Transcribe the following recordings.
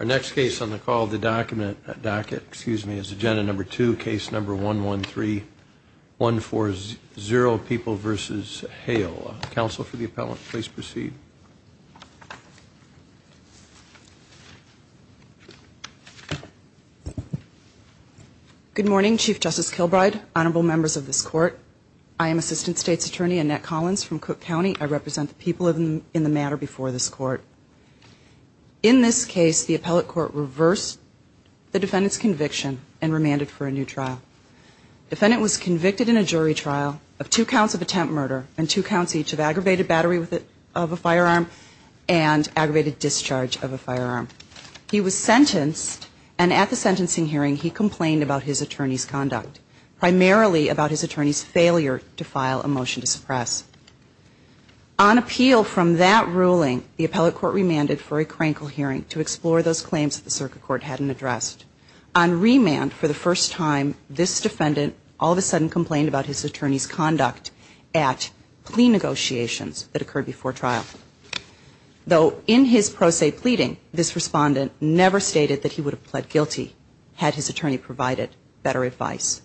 Our next case on the call of the docket is agenda number two, case number 113, 140, People v. Hale. Counsel for the appellant, please proceed. Good morning, Chief Justice Kilbride, honorable members of this court. I am Assistant State's Attorney Annette Collins from Cook County. I represent the people in the matter before this court. In this case, the appellate court reversed the defendant's conviction and remanded for a new trial. The defendant was convicted in a jury trial of two counts of attempt murder and two counts each of aggravated battery of a firearm and aggravated discharge of a firearm. He was sentenced and at the sentencing hearing he complained about his attorney's conduct, primarily about his attorney's failure to file a motion to suppress. On appeal from that ruling, the appellate court remanded for a crankle hearing to explore those claims that the circuit court hadn't addressed. On remand for the first time, this defendant all of a sudden complained about his attorney's conduct at plea negotiations that occurred before trial. Though in his pro se pleading, this respondent never stated that he would have pled guilty had his attorney provided better advice.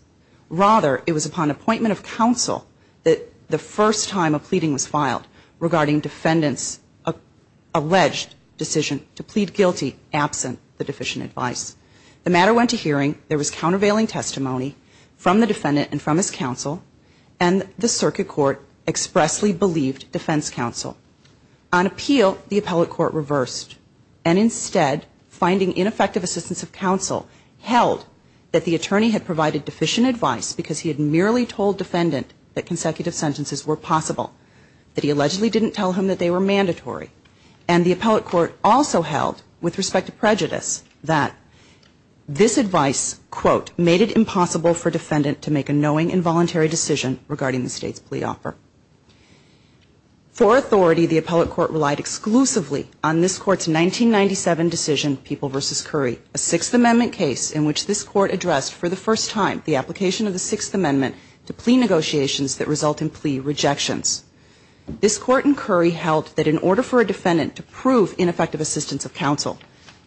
Rather, it was upon appointment of counsel that the first time a pleading was filed regarding defendant's alleged decision to plead guilty absent the deficient advice. The matter went to hearing, there was countervailing testimony from the defendant and from his counsel, and the circuit court expressly believed defense counsel. On appeal, the appellate court reversed and instead finding ineffective assistance of counsel held that the attorney had provided deficient advice because he had merely told defendant that consecutive sentences were possible. That he allegedly didn't tell him that they were mandatory. And the appellate court also held with respect to prejudice that this advice, quote, made it impossible for defendant to make a knowing involuntary decision regarding the state's plea offer. For authority, the appellate court relied exclusively on this court's 1997 decision, People v. Curry. A Sixth Amendment case in which this court addressed for the first time the application of the Sixth Amendment to plea negotiations that result in plea rejections. This court in Curry held that in order for a defendant to prove ineffective assistance of counsel,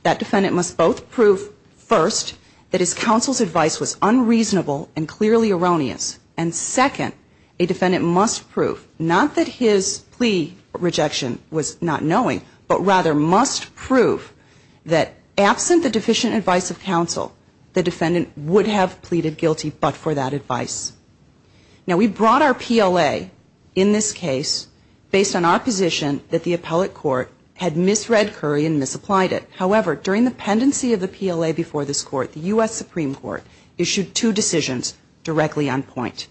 that defendant must both prove, first, that his counsel's advice was unreasonable and clearly erroneous. And second, a defendant must prove, not that his plea rejection was not knowing, but rather must prove that absent the deficient advice of counsel, the defendant would have pleaded guilty but for that advice. Now we brought our PLA in this case based on our position that the appellate court had misread Curry and misapplied it. However, during the pendency of the PLA before this court, the U.S. Supreme Court issued two decisions directly on point.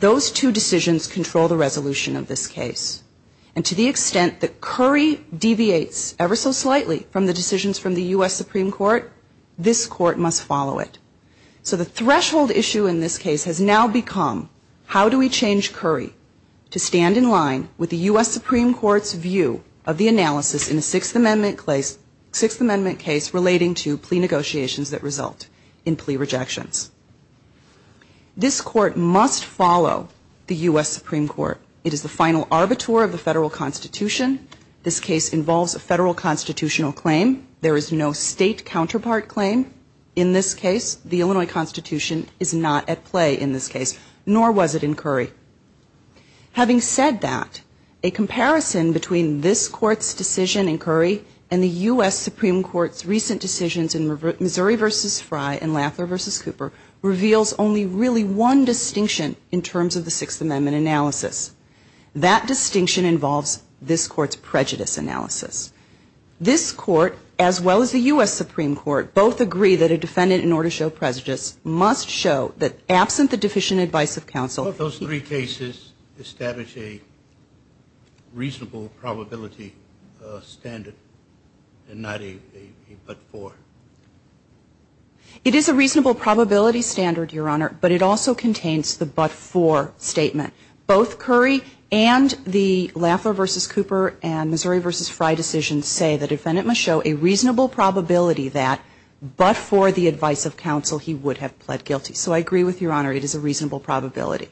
Those two decisions control the resolution of this case. And to the extent that Curry deviates ever so slightly from the decisions from the U.S. Supreme Court, this court must follow it. So the threshold issue in this case has now become, how do we change Curry to stand in line with the U.S. Supreme Court's view of the analysis in a Sixth Amendment case relating to plea negotiations that result in plea rejections? This court must follow the U.S. Supreme Court. It is the final arbiter of the Federal Constitution. This case involves a Federal constitutional claim. There is no state counterpart claim in this case. The Illinois Constitution is not at play in this case, nor was it in Curry. Having said that, a comparison between this court's decision in Curry and the U.S. Supreme Court's recent decisions in Missouri v. Fry and Laffler v. Cooper reveals only really one distinction in terms of the Sixth Amendment analysis. That distinction involves this court's prejudice analysis. This court, as well as the U.S. Supreme Court, both agree that a defendant in order to show prejudice must show that, absent the deficient advice of counsel What if those three cases establish a reasonable probability standard and not a but-for? It is a reasonable probability standard, Your Honor, but it also contains the but-for statement. Both Curry and the Laffler v. Cooper and Missouri v. Fry decisions say the defendant must show a reasonable probability that, but-for the advice of counsel, he would have pled guilty. So I agree with you, Your Honor, it is a reasonable probability.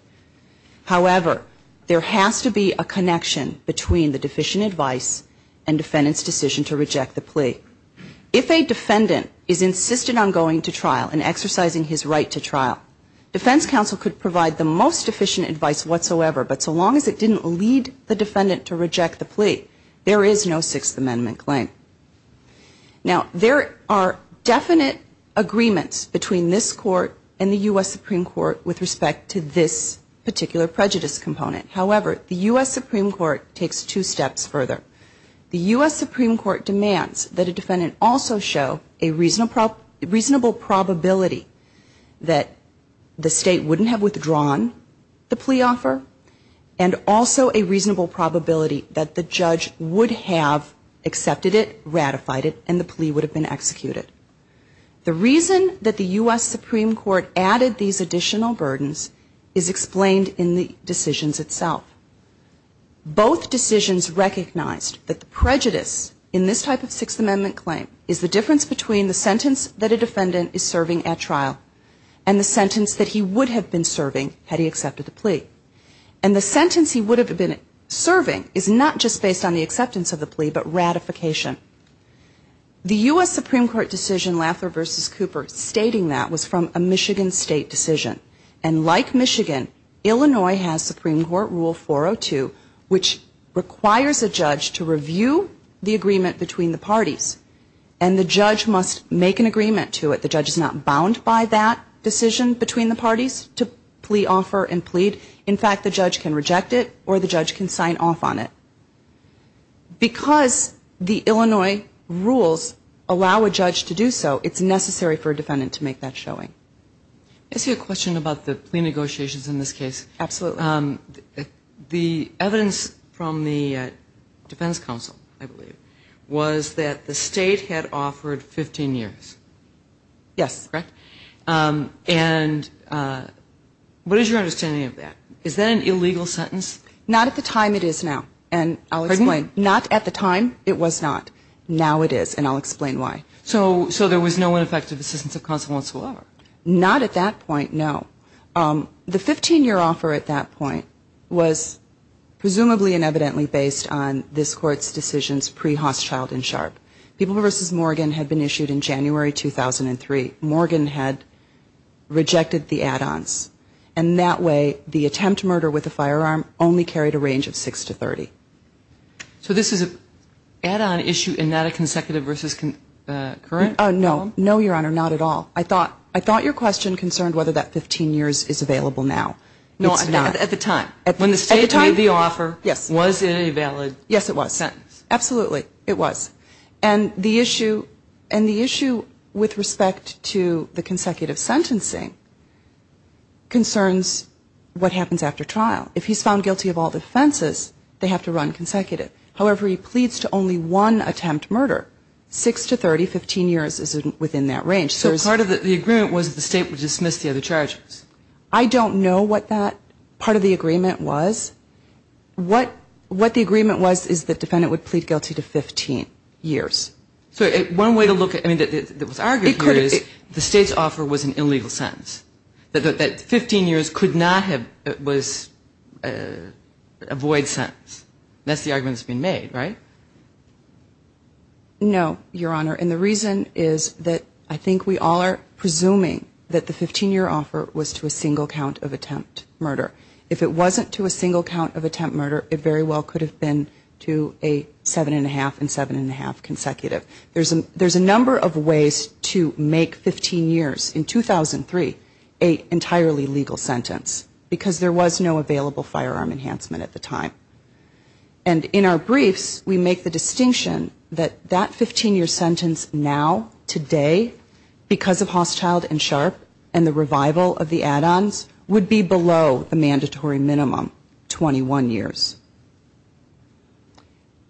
However, there has to be a connection between the deficient advice and defendant's decision to reject the plea. If a defendant is insistent on going to trial and exercising his right to trial, defense counsel could provide the most deficient advice whatsoever, but so long as it didn't lead the defendant to reject the plea, there is no Sixth Amendment claim. Now, there are definite agreements between this court and the U.S. Supreme Court with respect to this particular prejudice component. However, the U.S. Supreme Court takes two steps further. The U.S. Supreme Court demands that a defendant also show a reasonable probability that the state wouldn't have withdrawn the plea offer, and also a reasonable probability that the judge would have accepted it, ratified it, and the plea would have been executed. The reason that the U.S. Supreme Court added these additional burdens is explained in the decisions itself. Both decisions recognized that the prejudice in this type of Sixth Amendment claim is the difference between the sentence that a defendant is serving at trial and the sentence that he would have been serving had he accepted the plea. And the sentence he would have been serving is not just based on the acceptance of the plea, but ratification. The U.S. Supreme Court decision Laffer v. Cooper stating that was from a Michigan State decision. And like Michigan, Illinois has Supreme Court Rule 402, which requires a judge to review the agreement between the parties. And the judge must make an agreement to it. The judge is not bound by that decision between the parties to plea offer and plead. In fact, the judge can reject it or the judge can sign off on it. Because the Illinois rules allow a judge to do so, it's necessary for a defendant to make that showing. I see a question about the plea negotiations in this case. Absolutely. The evidence from the Defense Council, I believe, was that the state had offered 15 years. Yes. And what is your understanding of that? Is that an illegal sentence? Not at the time it is now. And I'll explain. Not at the time it was not. Now it is. And I'll explain why. So there was no ineffective assistance of consequence at all? Not at that point, no. The 15-year offer at that point was presumably and evidently based on this Court's decisions pre-Hauschild and Sharp. People v. Morgan had been issued in January 2003. Morgan had rejected the add-ons. And that way the attempt to murder with a firearm only carried a range of 6 to 30. So this is an add-on issue and not a consecutive versus current? No. No, Your Honor, not at all. I thought your question concerned whether that 15 years is available now. No, not at the time. When the state made the offer, was it a valid sentence? Yes, it was. Absolutely, it was. And the issue with respect to the consecutive sentencing concerns what happens after trial. If he's found guilty of all offenses, they have to run consecutive. However, he pleads to only one attempt murder, 6 to 30, 15 years is within that range. So part of the agreement was the state would dismiss the other charges? I don't know what that part of the agreement was. What the agreement was is the defendant would plead guilty to 15 years. So one way to look at it that was argued here is the state's offer was an illegal sentence. That 15 years could not have been a void sentence. That's the argument that's been made, right? No, Your Honor, and the reason is that I think we all are presuming that the 15-year offer was to a single count of attempt murder. If it wasn't to a single count of attempt murder, it very well could have been to a 7 1⁄2 and 7 1⁄2 consecutive. There's a number of ways to make 15 years in 2003 an entirely legal sentence, because there was no available firearm enhancement at the time. And in our briefs, we make the distinction that that 15-year sentence now, today, because of Hostile and Sharp and the revival of the add-ons, would be below the mandatory minimum, 21 years.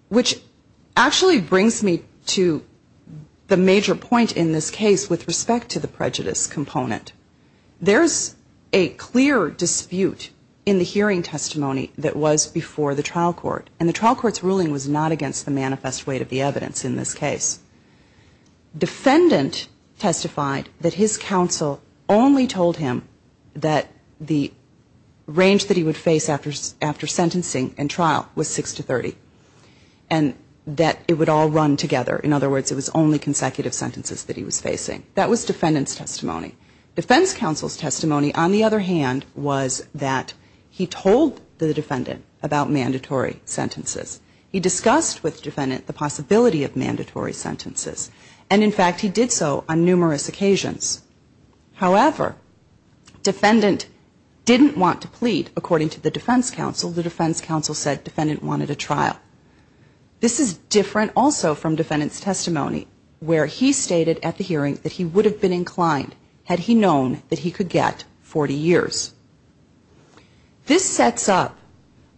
Which actually brings me to the major point in this case with respect to the prejudice component. There's a clear dispute in the hearing testimony that was before the trial court, and the trial court's ruling was not against the manifest weight of the evidence in this case. Defendant testified that his counsel only told him that the range that he would face after sentencing and trial was 6 to 30, and that it would all run together. In other words, it was only consecutive sentences that he was facing. That was defendant's testimony. Defense counsel's testimony, on the other hand, was that he told the defendant about mandatory sentences. He discussed with the defendant the possibility of mandatory sentences. And in fact, he did so on numerous occasions. However, defendant didn't want to plead, according to the defense counsel. The defense counsel said defendant wanted a trial. This is different also from defendant's testimony where he stated at the hearing that he would have been inclined had he known that he could get 40 years. This sets up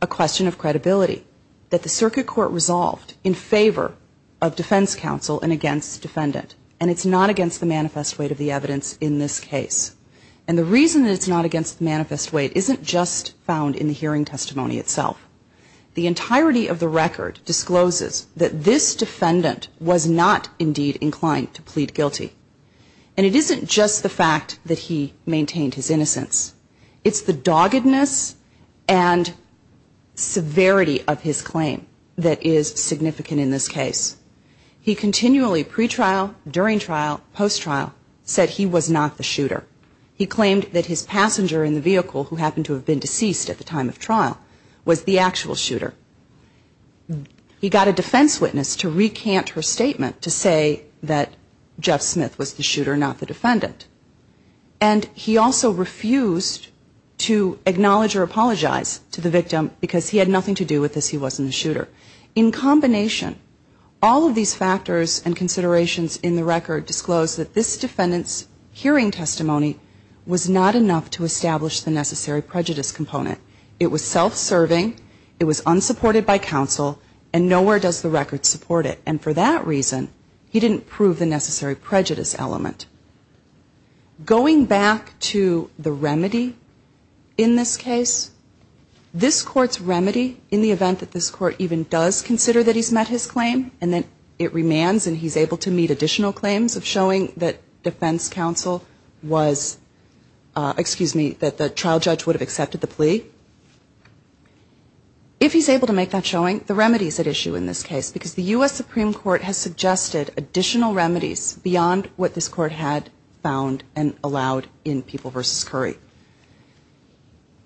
a question of credibility that the circuit court resolved in favor of defense counsel and against defendant, and it's not against the manifest weight of the evidence in this case. And the reason it's not against the manifest weight isn't just found in the hearing testimony itself. The entirety of the record discloses that this defendant was not indeed inclined to plead guilty. And it isn't just the fact that he maintained his innocence. It's the doggedness and severity of his claim that is significant in this case. He continually pre-trial, during trial, post-trial said he was not the shooter. He claimed that his passenger in the vehicle who happened to have been deceased at the time of trial was the actual shooter. He got a defense witness to recant her statement to say that Jeff Smith was the shooter, not the defendant. And he also refused to acknowledge or apologize to the victim because he had nothing to do with this. He wasn't the shooter. In combination, all of these factors and considerations in the record disclose that this defendant's hearing testimony was not enough to establish the necessary prejudice component. It was self-serving. It was unsupported by counsel. And nowhere does the record support it. And for that reason, he didn't prove the necessary prejudice element. Going back to the remedy in this case, this Court's remedy in the event that this Court even does consider that he's met his claim and that it remains and he's able to meet additional claims of showing that defense counsel was, excuse me, that the trial judge would have accepted the plea. If he's able to make that showing, the remedy is at issue in this case because the U.S. Supreme Court has suggested additional remedies beyond what this Court had found and allowed in People v. Curry.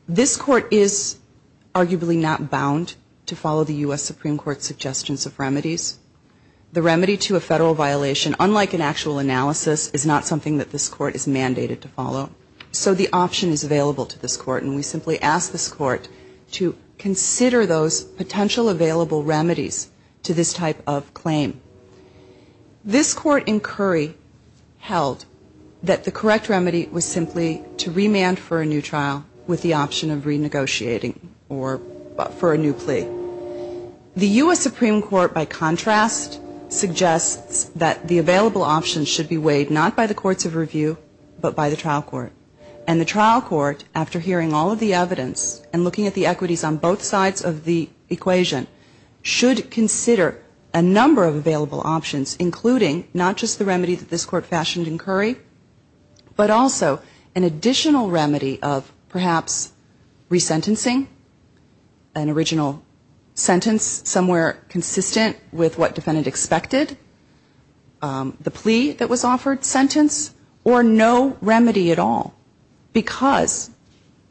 This Court is arguably not bound to follow the U.S. Supreme Court's suggestions of remedies. The remedy to a federal violation, unlike an actual analysis, is not something that this Court is mandated to follow. So the option is available to this Court. And we simply ask this Court to consider those potential available remedies to this type of claim. This Court in Curry held that the correct remedy was simply to remand for a new trial with the option of renegotiating or for a new plea. The U.S. Supreme Court, by contrast, suggests that the available option should be weighed not by the courts of review, but by the trial court. And the trial court, after hearing all of the evidence and looking at the equities on both sides of the equation, should consider a number of available options, including not just the remedy that this Court fashioned in Curry, but also an additional remedy of perhaps resentencing, an original sentence somewhere consistent with what defendant expected, the plea that was offered, sentence, or no remedy at all, because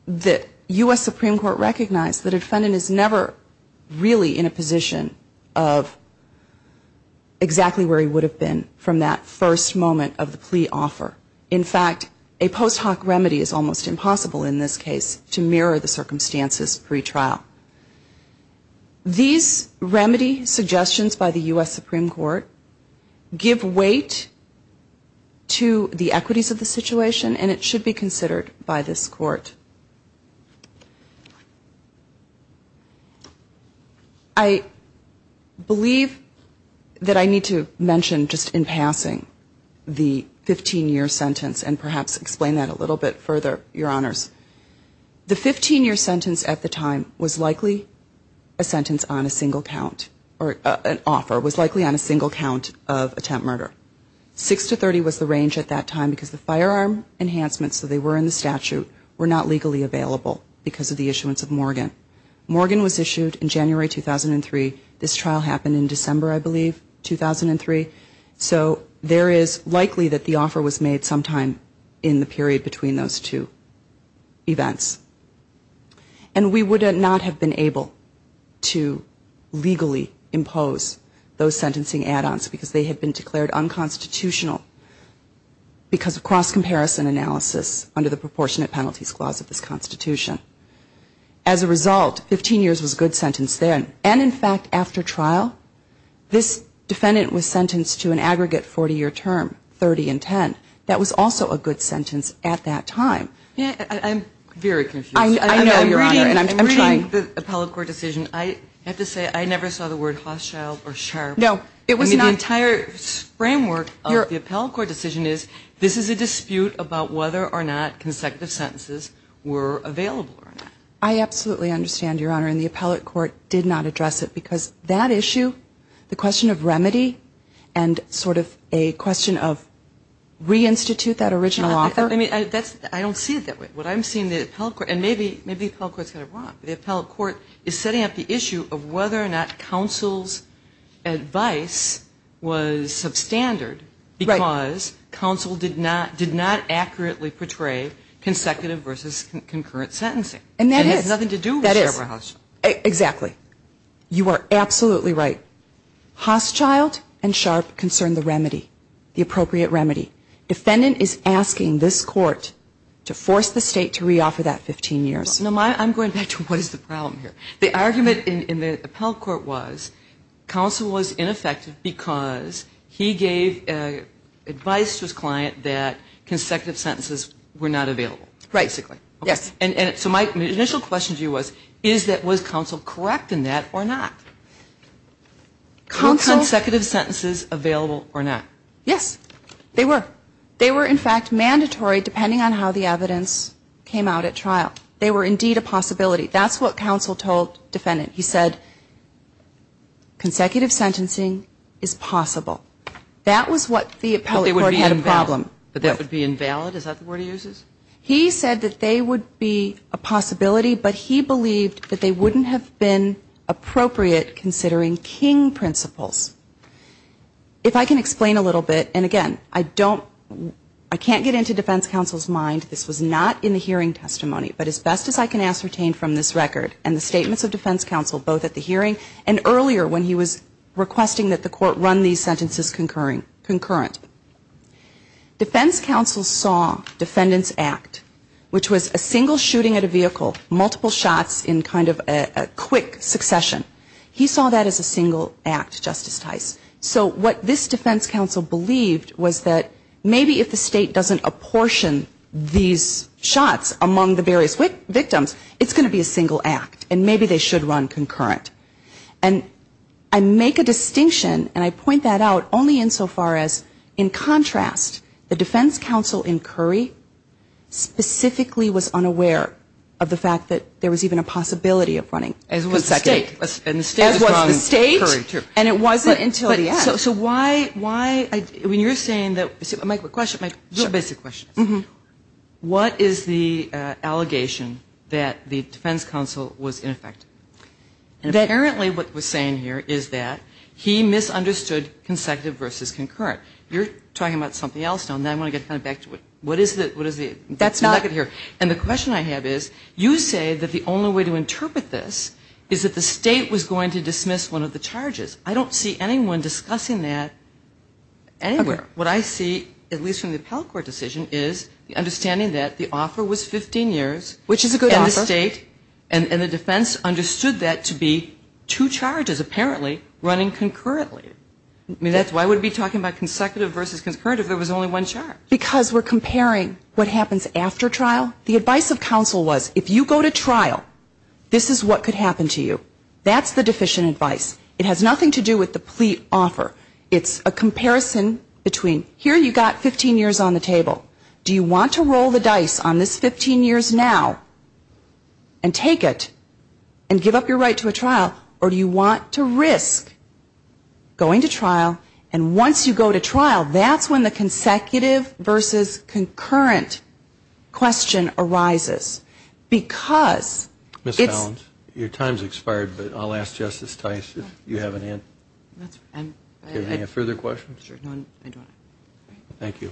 the U.S. Supreme Court recognized that a defendant is never really in a position of trying to figure out exactly where he would have been from that first moment of the plea offer. In fact, a post hoc remedy is almost impossible in this case to mirror the circumstances pre-trial. These remedy suggestions by the U.S. Supreme Court give weight to the equities of the situation, and it should be considered by this Court. I believe that I need to mention, just in passing, the 15-year sentence, and perhaps explain that a little bit further, Your Honors. The 15-year sentence at the time was likely a sentence on a single count, or an offer, was likely on a single count of attempt murder. Six to 30 was the range at that time, because the firearm enhancements that were in the statute were not likely on a single count. They were not legally available because of the issuance of Morgan. Morgan was issued in January 2003. This trial happened in December, I believe, 2003. So there is likely that the offer was made sometime in the period between those two events. And we would not have been able to legally impose those sentencing add-ons, because they have been declared unconstitutional because of cross-comparison analysis under the Proportionate Penalties Clause of this Constitution. As a result, 15 years was a good sentence then. And, in fact, after trial, this defendant was sentenced to an aggregate 40-year term, 30 and 10. That was also a good sentence at that time. I'm very confused. I'm reading the appellate court decision. I have to say, I never saw the word hostile or sharp. The entire framework of the appellate court decision is, this is a dispute about whether or not consecutive sentences were available or not. I absolutely understand, Your Honor, and the appellate court did not address it, because that issue, the question of remedy, and sort of a question of reinstitute that original offer. I don't see it that way. What I'm seeing in the appellate court, and maybe the appellate court is wrong, but the appellate court is setting up the issue of whether or not counsel's advice was substandard, because counsel did not accurately portray consecutive versus concurrent sentencing. And that has nothing to do with Sharper House. Exactly. You are absolutely right. Hostile and sharp concern the remedy, the appropriate remedy. Defendant is asking this Court to force the State to reoffer that 15 years. I'm going back to what is the problem here. The argument in the appellate court was, counsel was ineffective because he gave advice to his client that consecutive sentences were not available, basically. So my initial question to you was, was counsel correct in that or not? Were consecutive sentences available or not? Yes, they were. They were, in fact, mandatory depending on how the evidence came out at trial. They were indeed a possibility. That's what counsel told defendant. He said consecutive sentencing is possible. That was what the appellate court had a problem. But that would be invalid? Is that the word he uses? He said that they would be a possibility, but he believed that they wouldn't have been appropriate considering King principles. If I can explain a little bit, and again, I don't, I can't get into defense counsel's mind. This was not in the hearing testimony, but as best as I can ascertain from this record and the statements of defense counsel both at the hearing and earlier when he was requesting that the court run these sentences concurrent. Defense counsel saw defendant's act, which was a single shooting at a vehicle, multiple shots in kind of a quick succession. He saw that as a single act, Justice Tice. So what this defense counsel believed was that maybe if the state doesn't apportion these shots among the various victims, it's going to be a single act and maybe they should run concurrent. And I make a distinction, and I point that out only in so far as in contrast, the defense counsel in Curry specifically was unaware of the fact that there was even a possibility of running consecutive. As was the state. As was the state. And it wasn't until the end. So why, when you're saying that, I might have a question, just a basic question. What is the allegation that the defense counsel was ineffective? And apparently what we're saying here is that he misunderstood consecutive versus concurrent. You're talking about something else now, and I want to get kind of back to what is the nugget here. And the question I have is, you say that the only way to interpret this is that the state was going to dismiss one of the charges. I don't see anyone discussing that anywhere. What I see, at least from the appellate court decision, is the understanding that the offer was 15 years. Which is a good offer. And the state and the defense understood that to be two charges apparently running concurrently. I mean, that's why we would be talking about consecutive versus concurrent if there was only one charge. Because we're comparing what happens after trial. The advice of counsel was, if you go to trial, this is what could happen to you. That's the deficient advice. It has nothing to do with the plea offer. It's a comparison between, here you've got 15 years on the table. Do you want to roll the dice on this 15 years now and take it and give up your right to a trial? And once you go to trial, that's when the consecutive versus concurrent question arises. Because it's... Your time has expired, but I'll ask Justice Tice if you have any further questions. Thank you.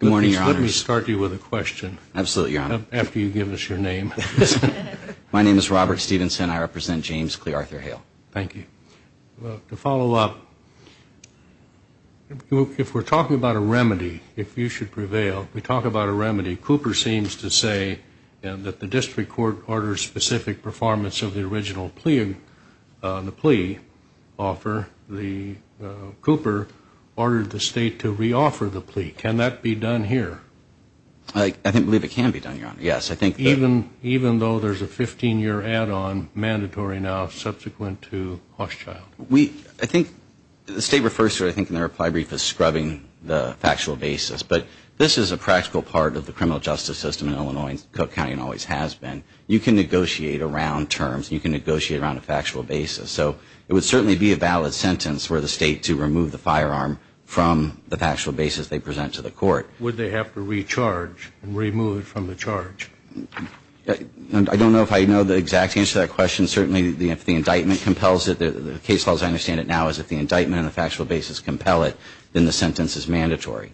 Good morning, Your Honors. Let me start you with a question. Absolutely, Your Honor. After you give us your name. My name is Robert Stevenson. And I represent James Clearthorne Hale. To follow up, if we're talking about a remedy, if you should prevail, we talk about a remedy. Cooper seems to say that the district court ordered specific performance of the original plea offer. Cooper ordered the state to reoffer the plea. Can that be done here? I believe it can be done, Your Honor, yes. Even though there's a 15-year add-on mandatory now subsequent to Hochschild? I think the state refers to it, I think in their reply brief, as scrubbing the factual basis. But this is a practical part of the criminal justice system in Illinois and Cook County and always has been. You can negotiate around terms. You can negotiate around a factual basis. So it would certainly be a valid sentence for the state to remove the firearm from the factual basis they present to the court. Would they have to recharge and remove it from the charge? I don't know if I know the exact answer to that question. Certainly if the indictment compels it. The case law, as I understand it now, is if the indictment and the factual basis compel it, then the sentence is mandatory.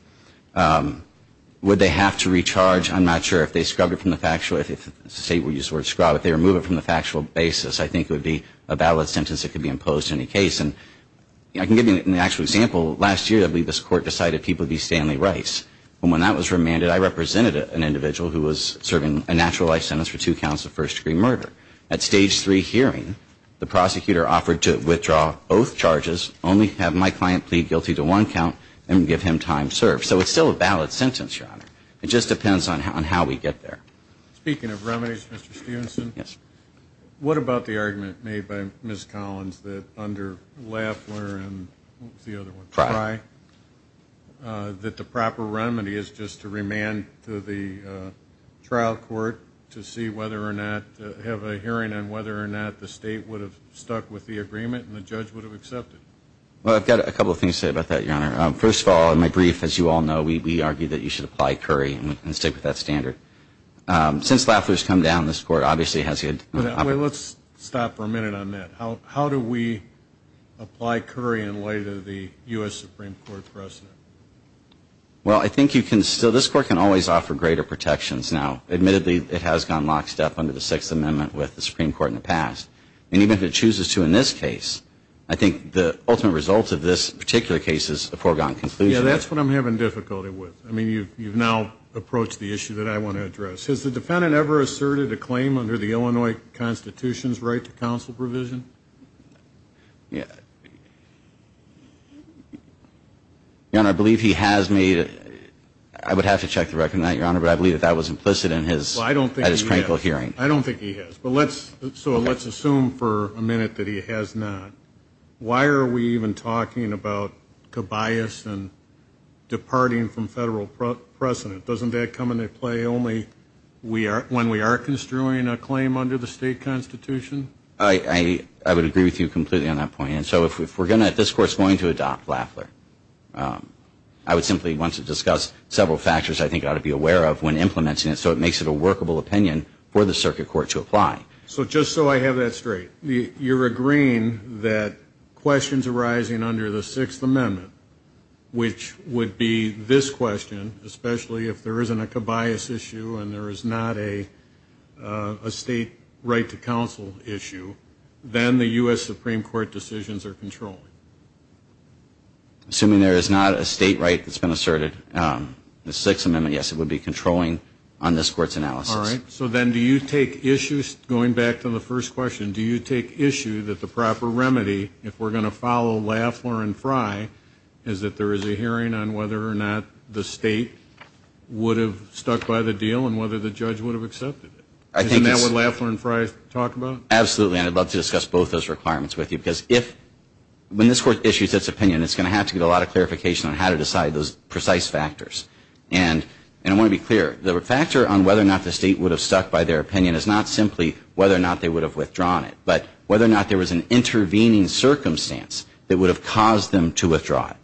Would they have to recharge? I'm not sure if they scrubbed it from the factual basis. I think it would be a valid sentence that could be imposed in any case. And I can give you an actual example. Last year, this court decided people would be Stanley Rice. And when that was remanded, I represented an individual who was serving a natural life sentence for two counts of first-degree murder. At Stage 3 hearing, the prosecutor offered to withdraw both charges, only have my client plead guilty to one count, and give him time served. So it's still a valid sentence, Your Honor. It just depends on how we get there. Speaking of remedies, Mr. Stevenson. Yes. What about the argument made by Ms. Collins that under Lafleur and the other one, Frye, that the proper remedy is just to remand to the trial court to see whether or not, have a hearing on whether or not the state would have stuck with the agreement and the judge would have accepted? Well, I've got a couple of things to say about that, Your Honor. First of all, in my brief, as you all know, we argue that you should apply Curry and stick with that standard. Since Lafleur's come down, this court obviously has had to. Let's stop for a minute on that. How do we apply Curry in light of the U.S. Supreme Court precedent? Well, I think you can still, this court can always offer greater protections now. Admittedly, it has gone lockstep under the Sixth Amendment with the Supreme Court in the past. And even if it chooses to in this case, I think the ultimate result of this particular case is a foregone conclusion. Yeah, that's what I'm having difficulty with. I mean, you've now approached the issue that I want to address. Has the defendant ever asserted a claim under the Illinois Constitution's right to counsel provision? Yeah. Your Honor, I believe he has made it. I would have to check the record on that, Your Honor, but I believe that that was implicit in his critical hearing. I don't think he has. But let's, so let's assume for a minute that he has not. Why are we even talking about Cabayas and departing from federal precedent? Doesn't that come into play only when we are construing a claim under the state constitution? I would agree with you completely on that point. And so if we're going to, if this court's going to adopt Lafleur, I would simply want to discuss several factors I think ought to be aware of when implementing it so it makes it a workable opinion for the circuit court to apply. So just so I have that straight, you're agreeing that questions arising under the Sixth Amendment, which would be this question, especially if there isn't a Cabayas issue and there is not a state right to counsel issue, then the U.S. Supreme Court decisions are controlling. Assuming there is not a state right that's been asserted, the Sixth Amendment, yes, it would be controlling on this court's analysis. All right. So then do you take issue, going back to the first question, do you take issue that the proper remedy, if we're going to follow Lafleur and Frye, is that there is a hearing on whether or not the state would have stuck by the deal and whether the judge would have accepted it? Isn't that what Lafleur and Frye talk about? Absolutely. And I'd love to discuss both those requirements with you because if, when this court issues its opinion, it's going to have to get a lot of clarification on how to decide those precise factors. And I want to be clear. The factor on whether or not the state would have stuck by their opinion is not simply whether or not they would have withdrawn it, but whether or not there was an intervening circumstance that would have caused them to withdraw it.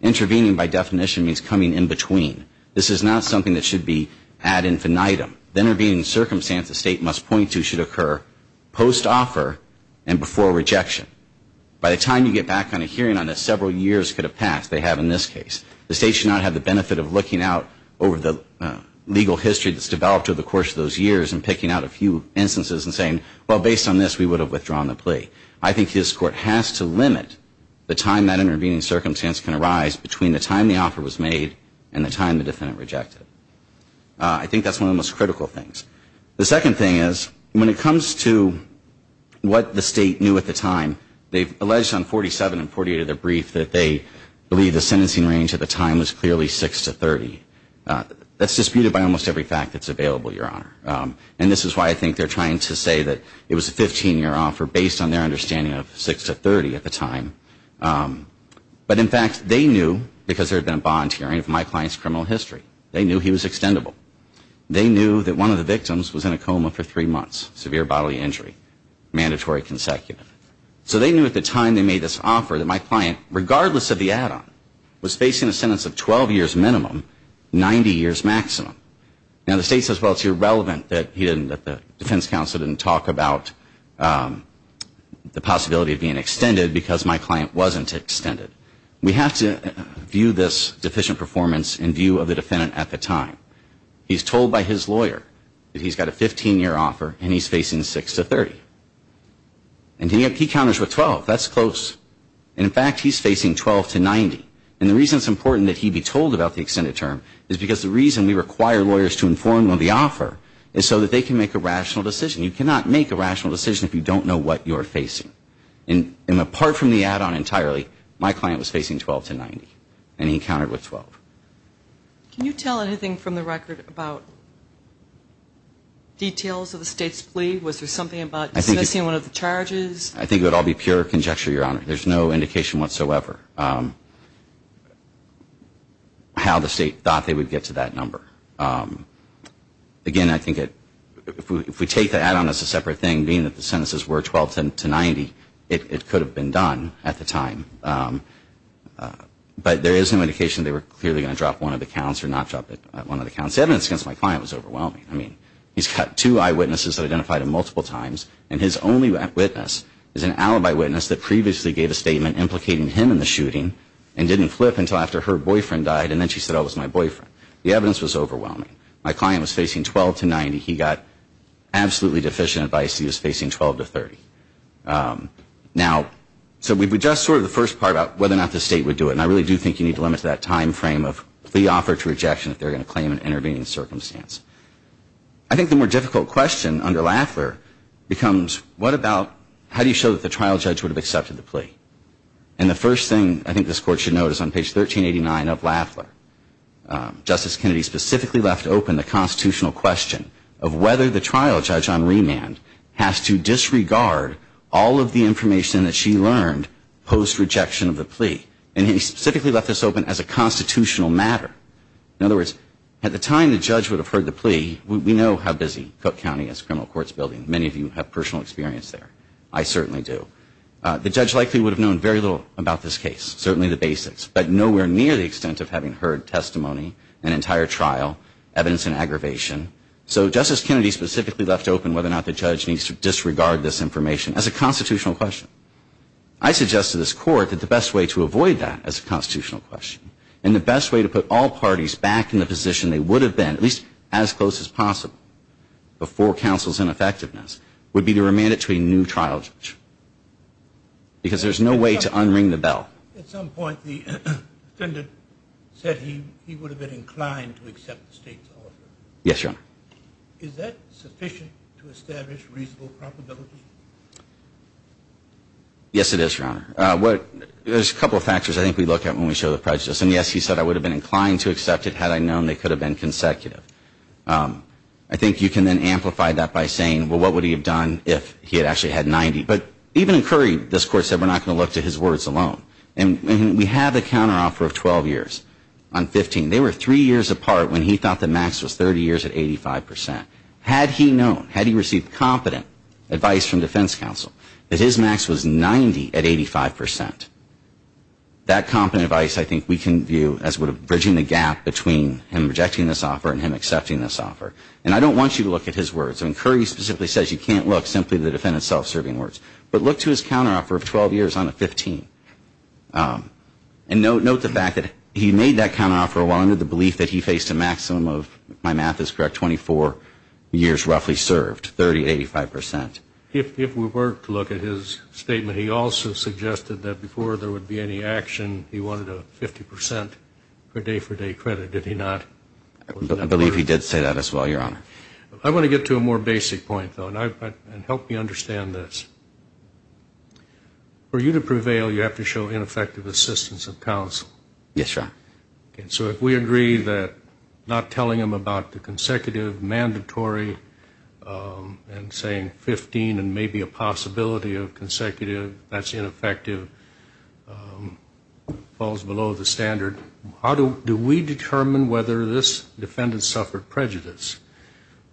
Intervening by definition means coming in between. This is not something that should be ad infinitum. The intervening circumstance the state must point to should occur post-offer and before rejection. By the time you get back on a hearing on this, several years could have passed. They have in this case. The state should not have the benefit of looking out over the legal history that's developed over the course of those years and picking out a few instances and saying, well, based on this, we would have withdrawn the plea. I think this court has to limit the time that intervening circumstance can arise between the time the offer was made and the time the defendant rejected it. I think that's one of the most critical things. The second thing is when it comes to what the state knew at the time, they've alleged on 47 and 48 of their brief that they believe the sentencing range at the time was clearly 6 to 30. That's disputed by almost every fact that's available, Your Honor. And this is why I think they're trying to say that it was a 15-year offer based on their understanding of 6 to 30 at the time. But in fact, they knew because there had been a bond hearing of my client's criminal history. They knew he was extendable. They knew that one of the victims was in a coma for three months, severe bodily injury, mandatory consecutive. So they knew at the time they made this offer that my client, regardless of the add-on, was facing a sentence of 12 years minimum, 90 years maximum. Now, the state says, well, it's irrelevant that the defense counsel didn't talk about the possibility of being extended because my client wasn't extended. We have to view this deficient performance in view of the defendant at the time. He's told by his lawyer that he's got a 15-year offer and he's facing 6 to 30. And he counters with 12. That's close. And in fact, he's facing 12 to 90. And the reason it's important that he be told about the extended term is because the reason we require lawyers to inform on the offer is so that they can make a rational decision. You cannot make a rational decision if you don't know what you're facing. And apart from the add-on entirely, my client was facing 12 to 90 and he counted with 12. Can you tell anything from the record about details of the state's plea? Was there something about dismissing one of the charges? I think it would all be pure conjecture, Your Honor. There's no indication whatsoever how the state thought they would get to that number. Again, I think if we take the add-on as a separate thing, being that the sentences were 12 to 90, it could have been done at the time. But there is no indication they were clearly going to drop one of the counts or not drop one of the counts. The evidence against my client was overwhelming. I mean, he's got two eyewitnesses that identified him multiple times, and his only witness is an alibi witness that previously gave a statement implicating him in the shooting and didn't flip until after her boyfriend died, and then she said, oh, it was my boyfriend. The evidence was overwhelming. My client was facing 12 to 90. He got absolutely deficient advice. He was facing 12 to 30. Now, so we've addressed sort of the first part about whether or not the state would do it, and I really do think you need to limit that time frame of plea offer to rejection if they're going to claim an intervening circumstance. I think the more difficult question under Lafleur becomes, what about how do you show that the trial judge would have accepted the plea? And the first thing I think this Court should note is on page 1389 of Lafleur, Justice Kennedy specifically left open the constitutional question of whether the trial judge on remand has to disregard all of the information that she learned post-rejection of the plea, and he specifically left this open as a constitutional matter. In other words, at the time the judge would have heard the plea, we know how busy Cook County is, criminal courts building. Many of you have personal experience there. I certainly do. The judge likely would have known very little about this case, certainly the basics, but nowhere near the extent of having heard testimony, an entire trial, evidence in aggravation. So Justice Kennedy specifically left open whether or not the judge needs to disregard this information as a constitutional question. I suggest to this Court that the best way to avoid that as a constitutional question and the best way to put all parties back in the position they would have been, at least as close as possible before counsel's ineffectiveness, would be to remand it to a new trial judge because there's no way to unring the bell. At some point the defendant said he would have been inclined to accept the state's offer. Yes, Your Honor. Is that sufficient to establish reasonable probability? Yes, it is, Your Honor. There's a couple of factors I think we look at when we show the prejudice. And, yes, he said I would have been inclined to accept it had I known they could have been consecutive. I think you can then amplify that by saying, well, what would he have done if he had actually had 90? But even in Curry, this Court said we're not going to look to his words alone. And we have a counteroffer of 12 years on 15. They were three years apart when he thought the max was 30 years at 85%. Had he known, had he received competent advice from defense counsel that his max was 90 at 85%, that competent advice I think we can view as bridging the gap between him rejecting this offer and him accepting this offer. And I don't want you to look at his words. I mean, Curry specifically says you can't look simply to the defendant's self-serving words. But look to his counteroffer of 12 years on a 15. And note the fact that he made that counteroffer while under the belief that he faced a maximum of, if my math is correct, 24 years roughly served, 30, 85%. If we were to look at his statement, he also suggested that before there would be any action, he wanted a 50% per day, per day credit. Did he not? I believe he did say that as well, Your Honor. I want to get to a more basic point, though, and help me understand this. For you to prevail, you have to show ineffective assistance of counsel. Yes, Your Honor. So if we agree that not telling him about the consecutive mandatory and saying 15 and maybe a possibility of consecutive, that's ineffective, falls below the standard, do we determine whether this defendant suffered prejudice?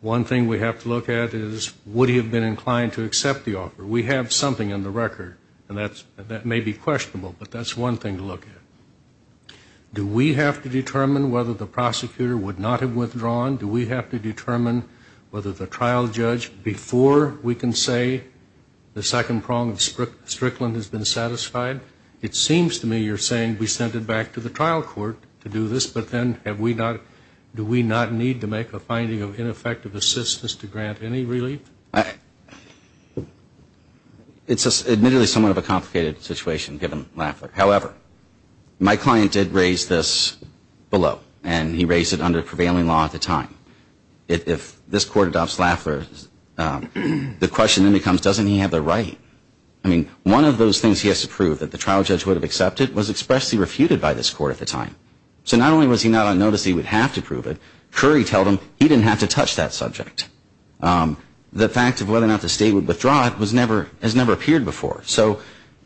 One thing we have to look at is would he have been inclined to accept the offer? We have something in the record, and that may be questionable, but that's one thing to look at. Do we have to determine whether the prosecutor would not have withdrawn? Do we have to determine whether the trial judge, before we can say the second prong of Strickland has been satisfied? It seems to me you're saying we sent it back to the trial court to do this, but then do we not need to make a finding of ineffective assistance to grant any relief? It's admittedly somewhat of a complicated situation, given Laffler. However, my client did raise this below, and he raised it under prevailing law at the time. If this court adopts Laffler, the question then becomes doesn't he have the right? I mean, one of those things he has to prove that the trial judge would have accepted was expressly refuted by this court at the time. So not only was he not on notice that he would have to prove it, Curry told him he didn't have to touch that subject. The fact of whether or not the state would withdraw it has never appeared before. So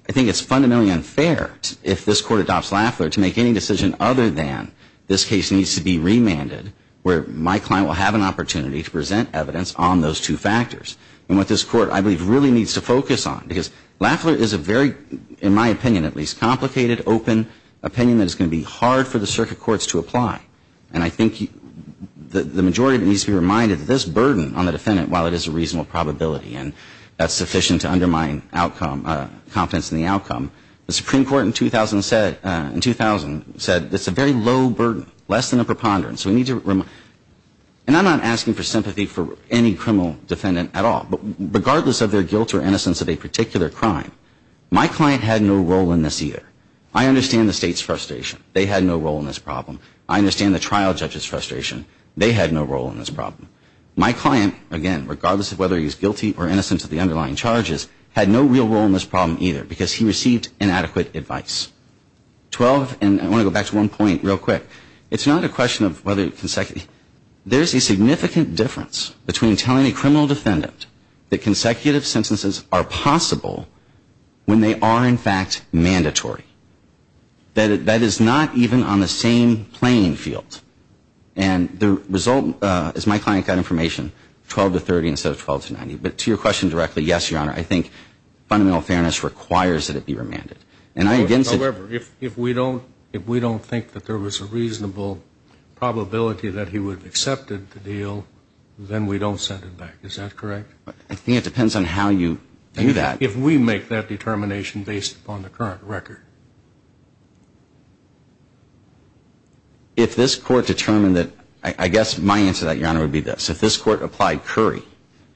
I think it's fundamentally unfair if this court adopts Laffler to make any decision other than this case needs to be remanded, where my client will have an opportunity to present evidence on those two factors. And what this court, I believe, really needs to focus on, because Laffler is a very, in my opinion at least, complicated, open opinion that is going to be hard for the circuit courts to apply. And I think the majority needs to be reminded that this burden on the defendant, while it is a reasonable probability, and that's sufficient to undermine confidence in the outcome, the Supreme Court in 2000 said it's a very low burden, less than a preponderance. And I'm not asking for sympathy for any criminal defendant at all. But regardless of their guilt or innocence of a particular crime, my client had no role in this either. I understand the state's frustration. They had no role in this problem. I understand the trial judge's frustration. They had no role in this problem. My client, again, regardless of whether he's guilty or innocent of the underlying charges, had no real role in this problem either because he received inadequate advice. Twelve, and I want to go back to one point real quick. It's not a question of whether it's consecutive. There's a significant difference between telling a criminal defendant that consecutive sentences are possible when they are in fact mandatory. That is not even on the same playing field. And the result, as my client got information, 12 to 30 instead of 12 to 90. But to your question directly, yes, Your Honor, I think fundamental fairness requires that it be remanded. However, if we don't think that there was a reasonable probability that he would have accepted the deal, then we don't send it back. Is that correct? I think it depends on how you do that. If we make that determination based upon the current record. If this Court determined that, I guess my answer to that, Your Honor, would be this. If this Court applied Curry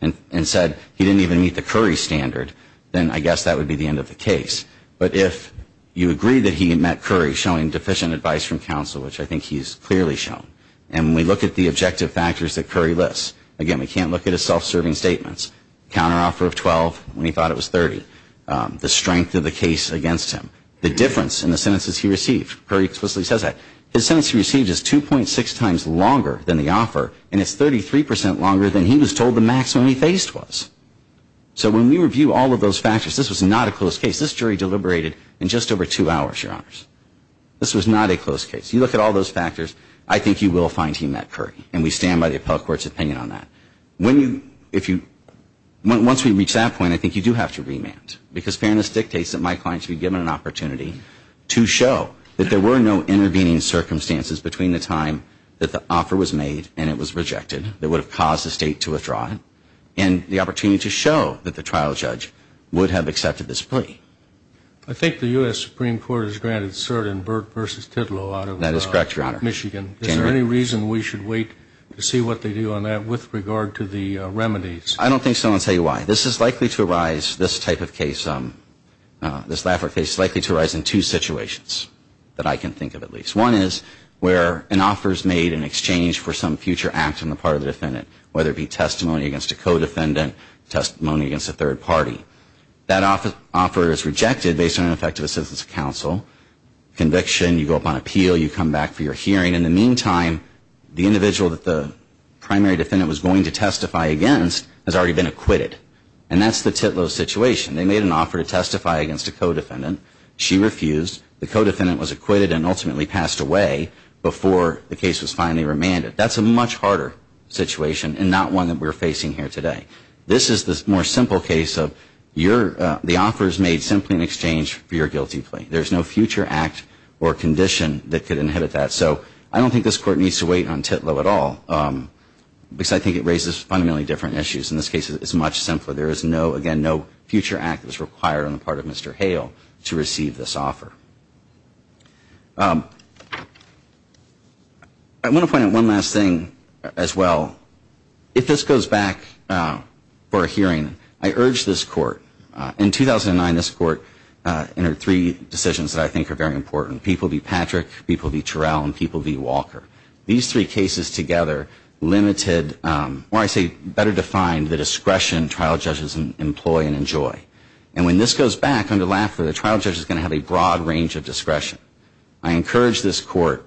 and said he didn't even meet the Curry standard, then I guess that would be the end of the case. But if you agree that he met Curry, showing deficient advice from counsel, which I think he's clearly shown. And when we look at the objective factors that Curry lists, again, we can't look at his self-serving statements. Counteroffer of 12 when he thought it was 30. The strength of the case against him. The difference in the sentences he received. Curry explicitly says that. His sentence he received is 2.6 times longer than the offer, and it's 33% longer than he was told the maximum he faced was. So when we review all of those factors, this was not a close case. This jury deliberated in just over two hours, Your Honors. This was not a close case. You look at all those factors, I think you will find he met Curry. And we stand by the appellate court's opinion on that. When you, if you, once we reach that point, I think you do have to remand. Because fairness dictates that my client should be given an opportunity to show that there were no intervening circumstances between the time that the offer was made and it was rejected that would have caused the State to withdraw it. And the opportunity to show that the trial judge would have accepted this plea. I think the U.S. Supreme Court has granted cert in Burt v. Titlow out of Michigan. That is correct, Your Honor. Is there any reason we should wait to see what they do on that with regard to the remedies? I don't think so, and I'll tell you why. This is likely to arise, this type of case, this Laffer case is likely to arise in two situations that I can think of at least. One is where an offer is made in exchange for some future act on the part of the defendant, whether it be testimony against a co-defendant, testimony against a third party. That offer is rejected based on ineffective assistance of counsel. Conviction, you go up on appeal, you come back for your hearing. In the meantime, the individual that the primary defendant was going to testify against has already been acquitted. And that's the Titlow situation. They made an offer to testify against a co-defendant. She refused. The co-defendant was acquitted and ultimately passed away before the case was finally remanded. That's a much harder situation and not one that we're facing here today. This is the more simple case of the offer is made simply in exchange for your guilty plea. There's no future act or condition that could inhibit that. So I don't think this Court needs to wait on Titlow at all because I think it raises fundamentally different issues. In this case, it's much simpler. There is no, again, no future act that's required on the part of Mr. Hale to receive this offer. I want to point out one last thing as well. If this goes back for a hearing, I urge this Court, in 2009 this Court entered three decisions that I think are very important. People v. Patrick, people v. Terrell, and people v. Walker. These three cases together limited, or I say better defined, the discretion trial judges employ and enjoy. And when this goes back under Laffer, the trial judge is going to have a broad range of discretion. I encourage this Court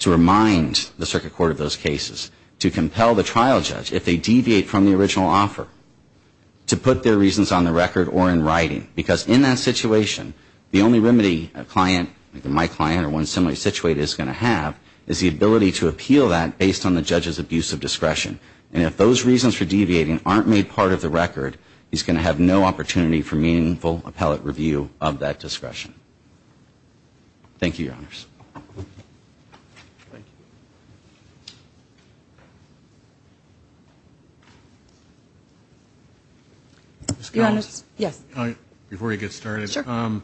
to remind the Circuit Court of those cases, to compel the trial judge, if they deviate from the original offer, to put their reasons on the record or in writing. Because in that situation, the only remedy a client, like my client or one similarly situated, is going to have is the ability to appeal that based on the judge's abuse of discretion. And if those reasons for deviating aren't made part of the record, he's going to have no opportunity for meaningful appellate review of that discretion. Thank you, Your Honors. Your Honors. Yes. Before you get started. Sure.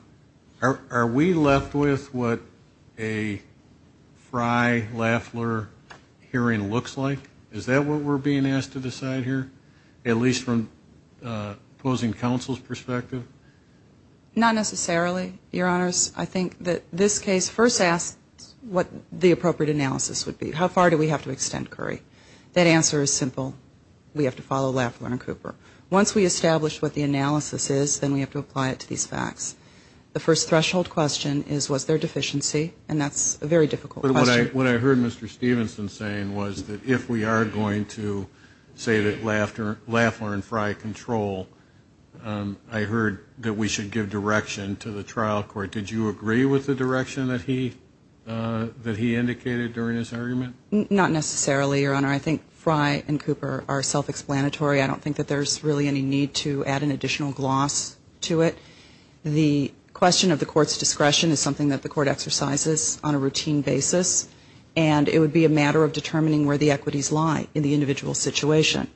Are we left with what a Frye-Laffler hearing looks like? Is that what we're being asked to decide here? At least from opposing counsel's perspective? Not necessarily, Your Honors. I think that this case first asks what the appropriate analysis would be. How far do we have to extend Curry? That answer is simple. We have to follow Laffer and Cooper. Once we establish what the analysis is, then we have to apply it to these facts. The first threshold question is, was there deficiency? And that's a very difficult question. What I heard Mr. Stevenson saying was that if we are going to say that Laffer and Frye control, I heard that we should give direction to the trial court. Did you agree with the direction that he indicated during his argument? Not necessarily, Your Honor. I think Frye and Cooper are self-explanatory. I don't think that there's really any need to add an additional gloss to it. The question of the court's discretion is something that the court exercises on a routine basis, and it would be a matter of determining where the equities lie in the individual situation.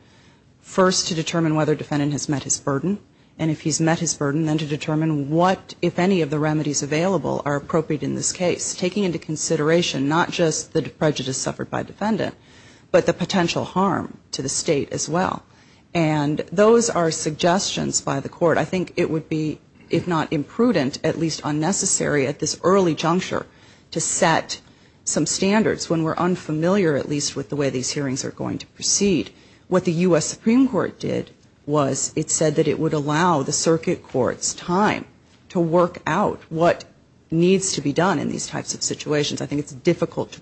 First, to determine whether defendant has met his burden, and if he's met his burden, then to determine what, if any, of the remedies available are appropriate in this case, taking into consideration not just the prejudice suffered by defendant, but the potential harm to the state as well. And those are suggestions by the court. I think it would be, if not imprudent, at least unnecessary at this early juncture to set some standards when we're unfamiliar, at least, with the way these hearings are going to proceed. What the U.S. Supreme Court did was it said that it would allow the circuit court's time to work out what needs to be done in these types of situations. I think it's difficult to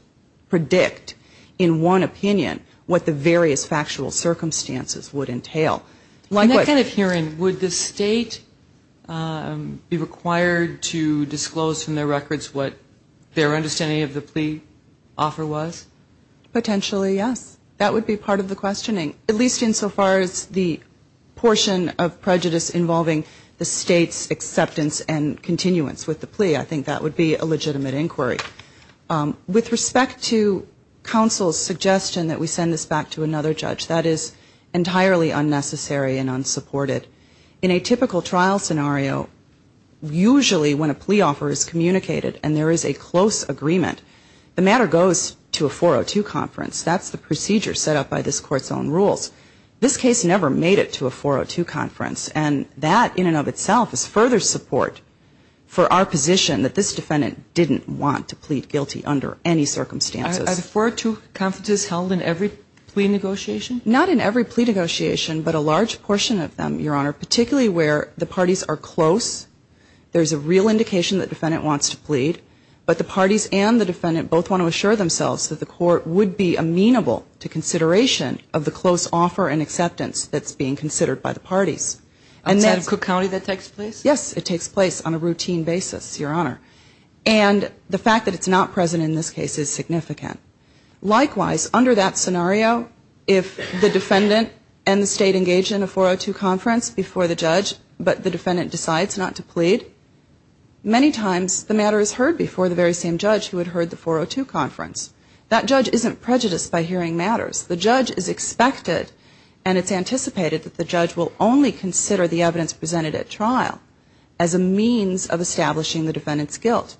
predict in one opinion what the various factual circumstances would entail. In that kind of hearing, would the state be required to disclose from their records what their understanding of the plea offer was? Potentially, yes. That would be part of the questioning, at least insofar as the portion of prejudice involving the state's acceptance and continuance with the plea. I think that would be a legitimate inquiry. With respect to counsel's suggestion that we send this back to another judge, that is entirely unnecessary and unsupported. In a typical trial scenario, usually when a plea offer is communicated and there is a close agreement, the matter goes to a 402 conference. That's the procedure set up by this Court's own rules. This case never made it to a 402 conference, and that in and of itself is further support for our position that this defendant didn't want to plead guilty under any circumstances. Are the 402 conferences held in every plea negotiation? Not in every plea negotiation, but a large portion of them, Your Honor, particularly where the parties are close, there's a real indication that the defendant wants to plead, but the parties and the defendant both want to assure themselves that the Court would be amenable to consideration of the close offer and acceptance that's being considered by the parties. Outside of Cook County that takes place? Yes, it takes place on a routine basis, Your Honor. And the fact that it's not present in this case is significant. Likewise, under that scenario, if the defendant and the State engage in a 402 conference before the judge, but the defendant decides not to plead, many times the matter is heard before the very same judge who had heard the 402 conference. That judge isn't prejudiced by hearing matters. The judge is expected and it's anticipated that the judge will only consider the evidence presented at trial as a means of establishing the defendant's guilt.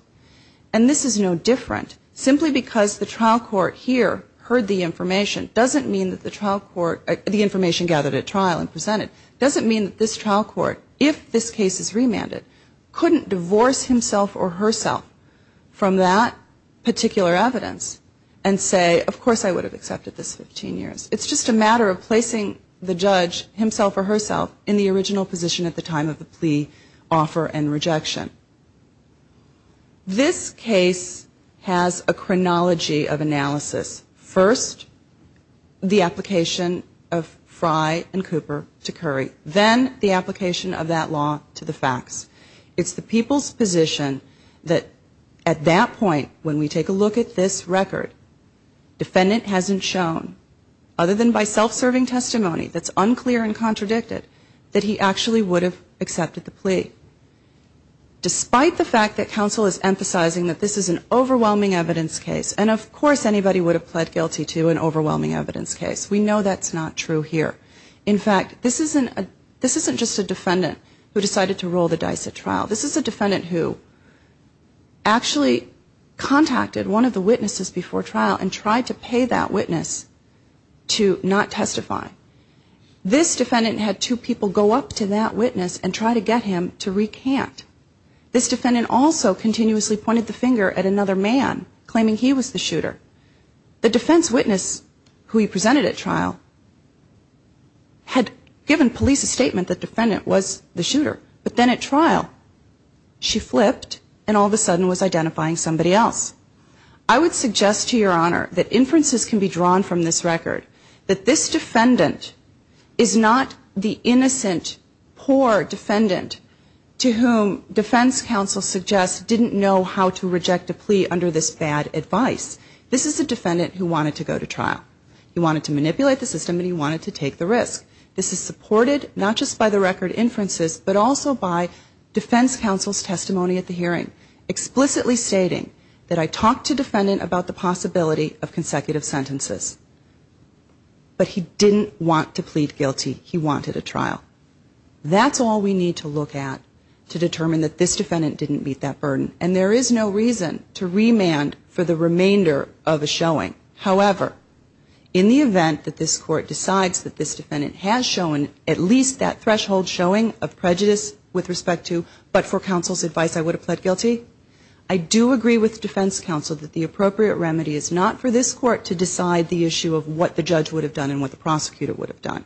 And this is no different. Simply because the trial court here heard the information doesn't mean that the information gathered at trial and presented doesn't mean that this trial court, if this case is remanded, couldn't divorce himself or herself from that particular evidence and say, of course I would have accepted this 15 years. It's just a matter of placing the judge, himself or herself, in the original position at the time of the plea offer and rejection. This case has a chronology of analysis. First, the application of Fry and Cooper to Curry. Then the application of that law to the facts. It's the people's position that at that point, when we take a look at this record, defendant hasn't shown, other than by self-serving testimony, that's unclear and contradicted, that he actually would have accepted the plea. Despite the fact that counsel is emphasizing that this is an overwhelming evidence case, and of course anybody would have pled guilty to an overwhelming evidence case. We know that's not true here. In fact, this isn't just a defendant who decided to roll the dice at trial. This is a defendant who actually contacted one of the witnesses before trial and tried to pay that witness to not testify. This defendant had two people go up to that witness and try to get him to recant. This defendant also continuously pointed the finger at another man, claiming he was the shooter. The defense witness, who he presented at trial, had given police a statement that the defendant was the shooter. But then at trial, she flipped and all of a sudden was identifying somebody else. I would suggest to Your Honor that inferences can be drawn from this record, that this defendant is not the innocent, poor defendant to whom defense counsel suggests didn't know how to reject a plea under this bad advice. This is a defendant who wanted to go to trial. He wanted to manipulate the system and he wanted to take the risk. This is supported not just by the record inferences, but also by defense counsel's testimony at the hearing, explicitly stating that I talked to defendant about the possibility of consecutive sentences. But he didn't want to plead guilty. He wanted a trial. That's all we need to look at to determine that this defendant didn't meet that burden. And there is no reason to remand for the remainder of a showing. However, in the event that this court decides that this defendant has shown at least that threshold showing of prejudice with respect to but for counsel's advice I would have pled guilty, I do agree with defense counsel that the appropriate remedy is not for this court to decide the issue of what the judge would have done and what the prosecutor would have done.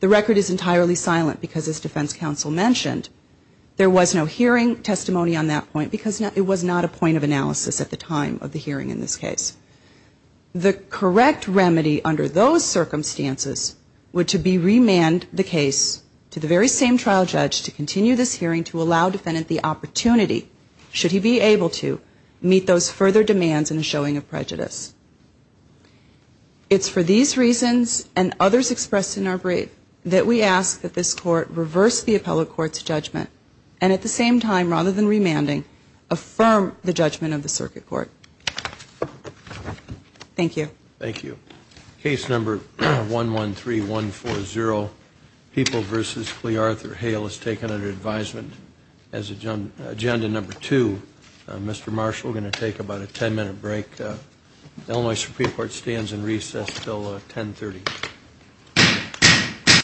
The record is entirely silent because as defense counsel mentioned, there was no hearing testimony on that point because it was not a point of analysis at the time of the hearing in this case. The correct remedy under those circumstances would be to remand the case to the very same trial judge to continue this hearing to allow defendant the opportunity, should he be able to, meet those further demands in a showing of prejudice. It's for these reasons and others expressed in our brief that we ask that this court reverse the appellate court's judgment and at the same time, rather than remanding, affirm the judgment of the circuit court. Thank you. Thank you. Case number 113140, People v. Clearth or Hale is taken under advisement as agenda number two. Mr. Marshall, we're going to take about a ten-minute break. The Illinois Supreme Court stands in recess until 1030.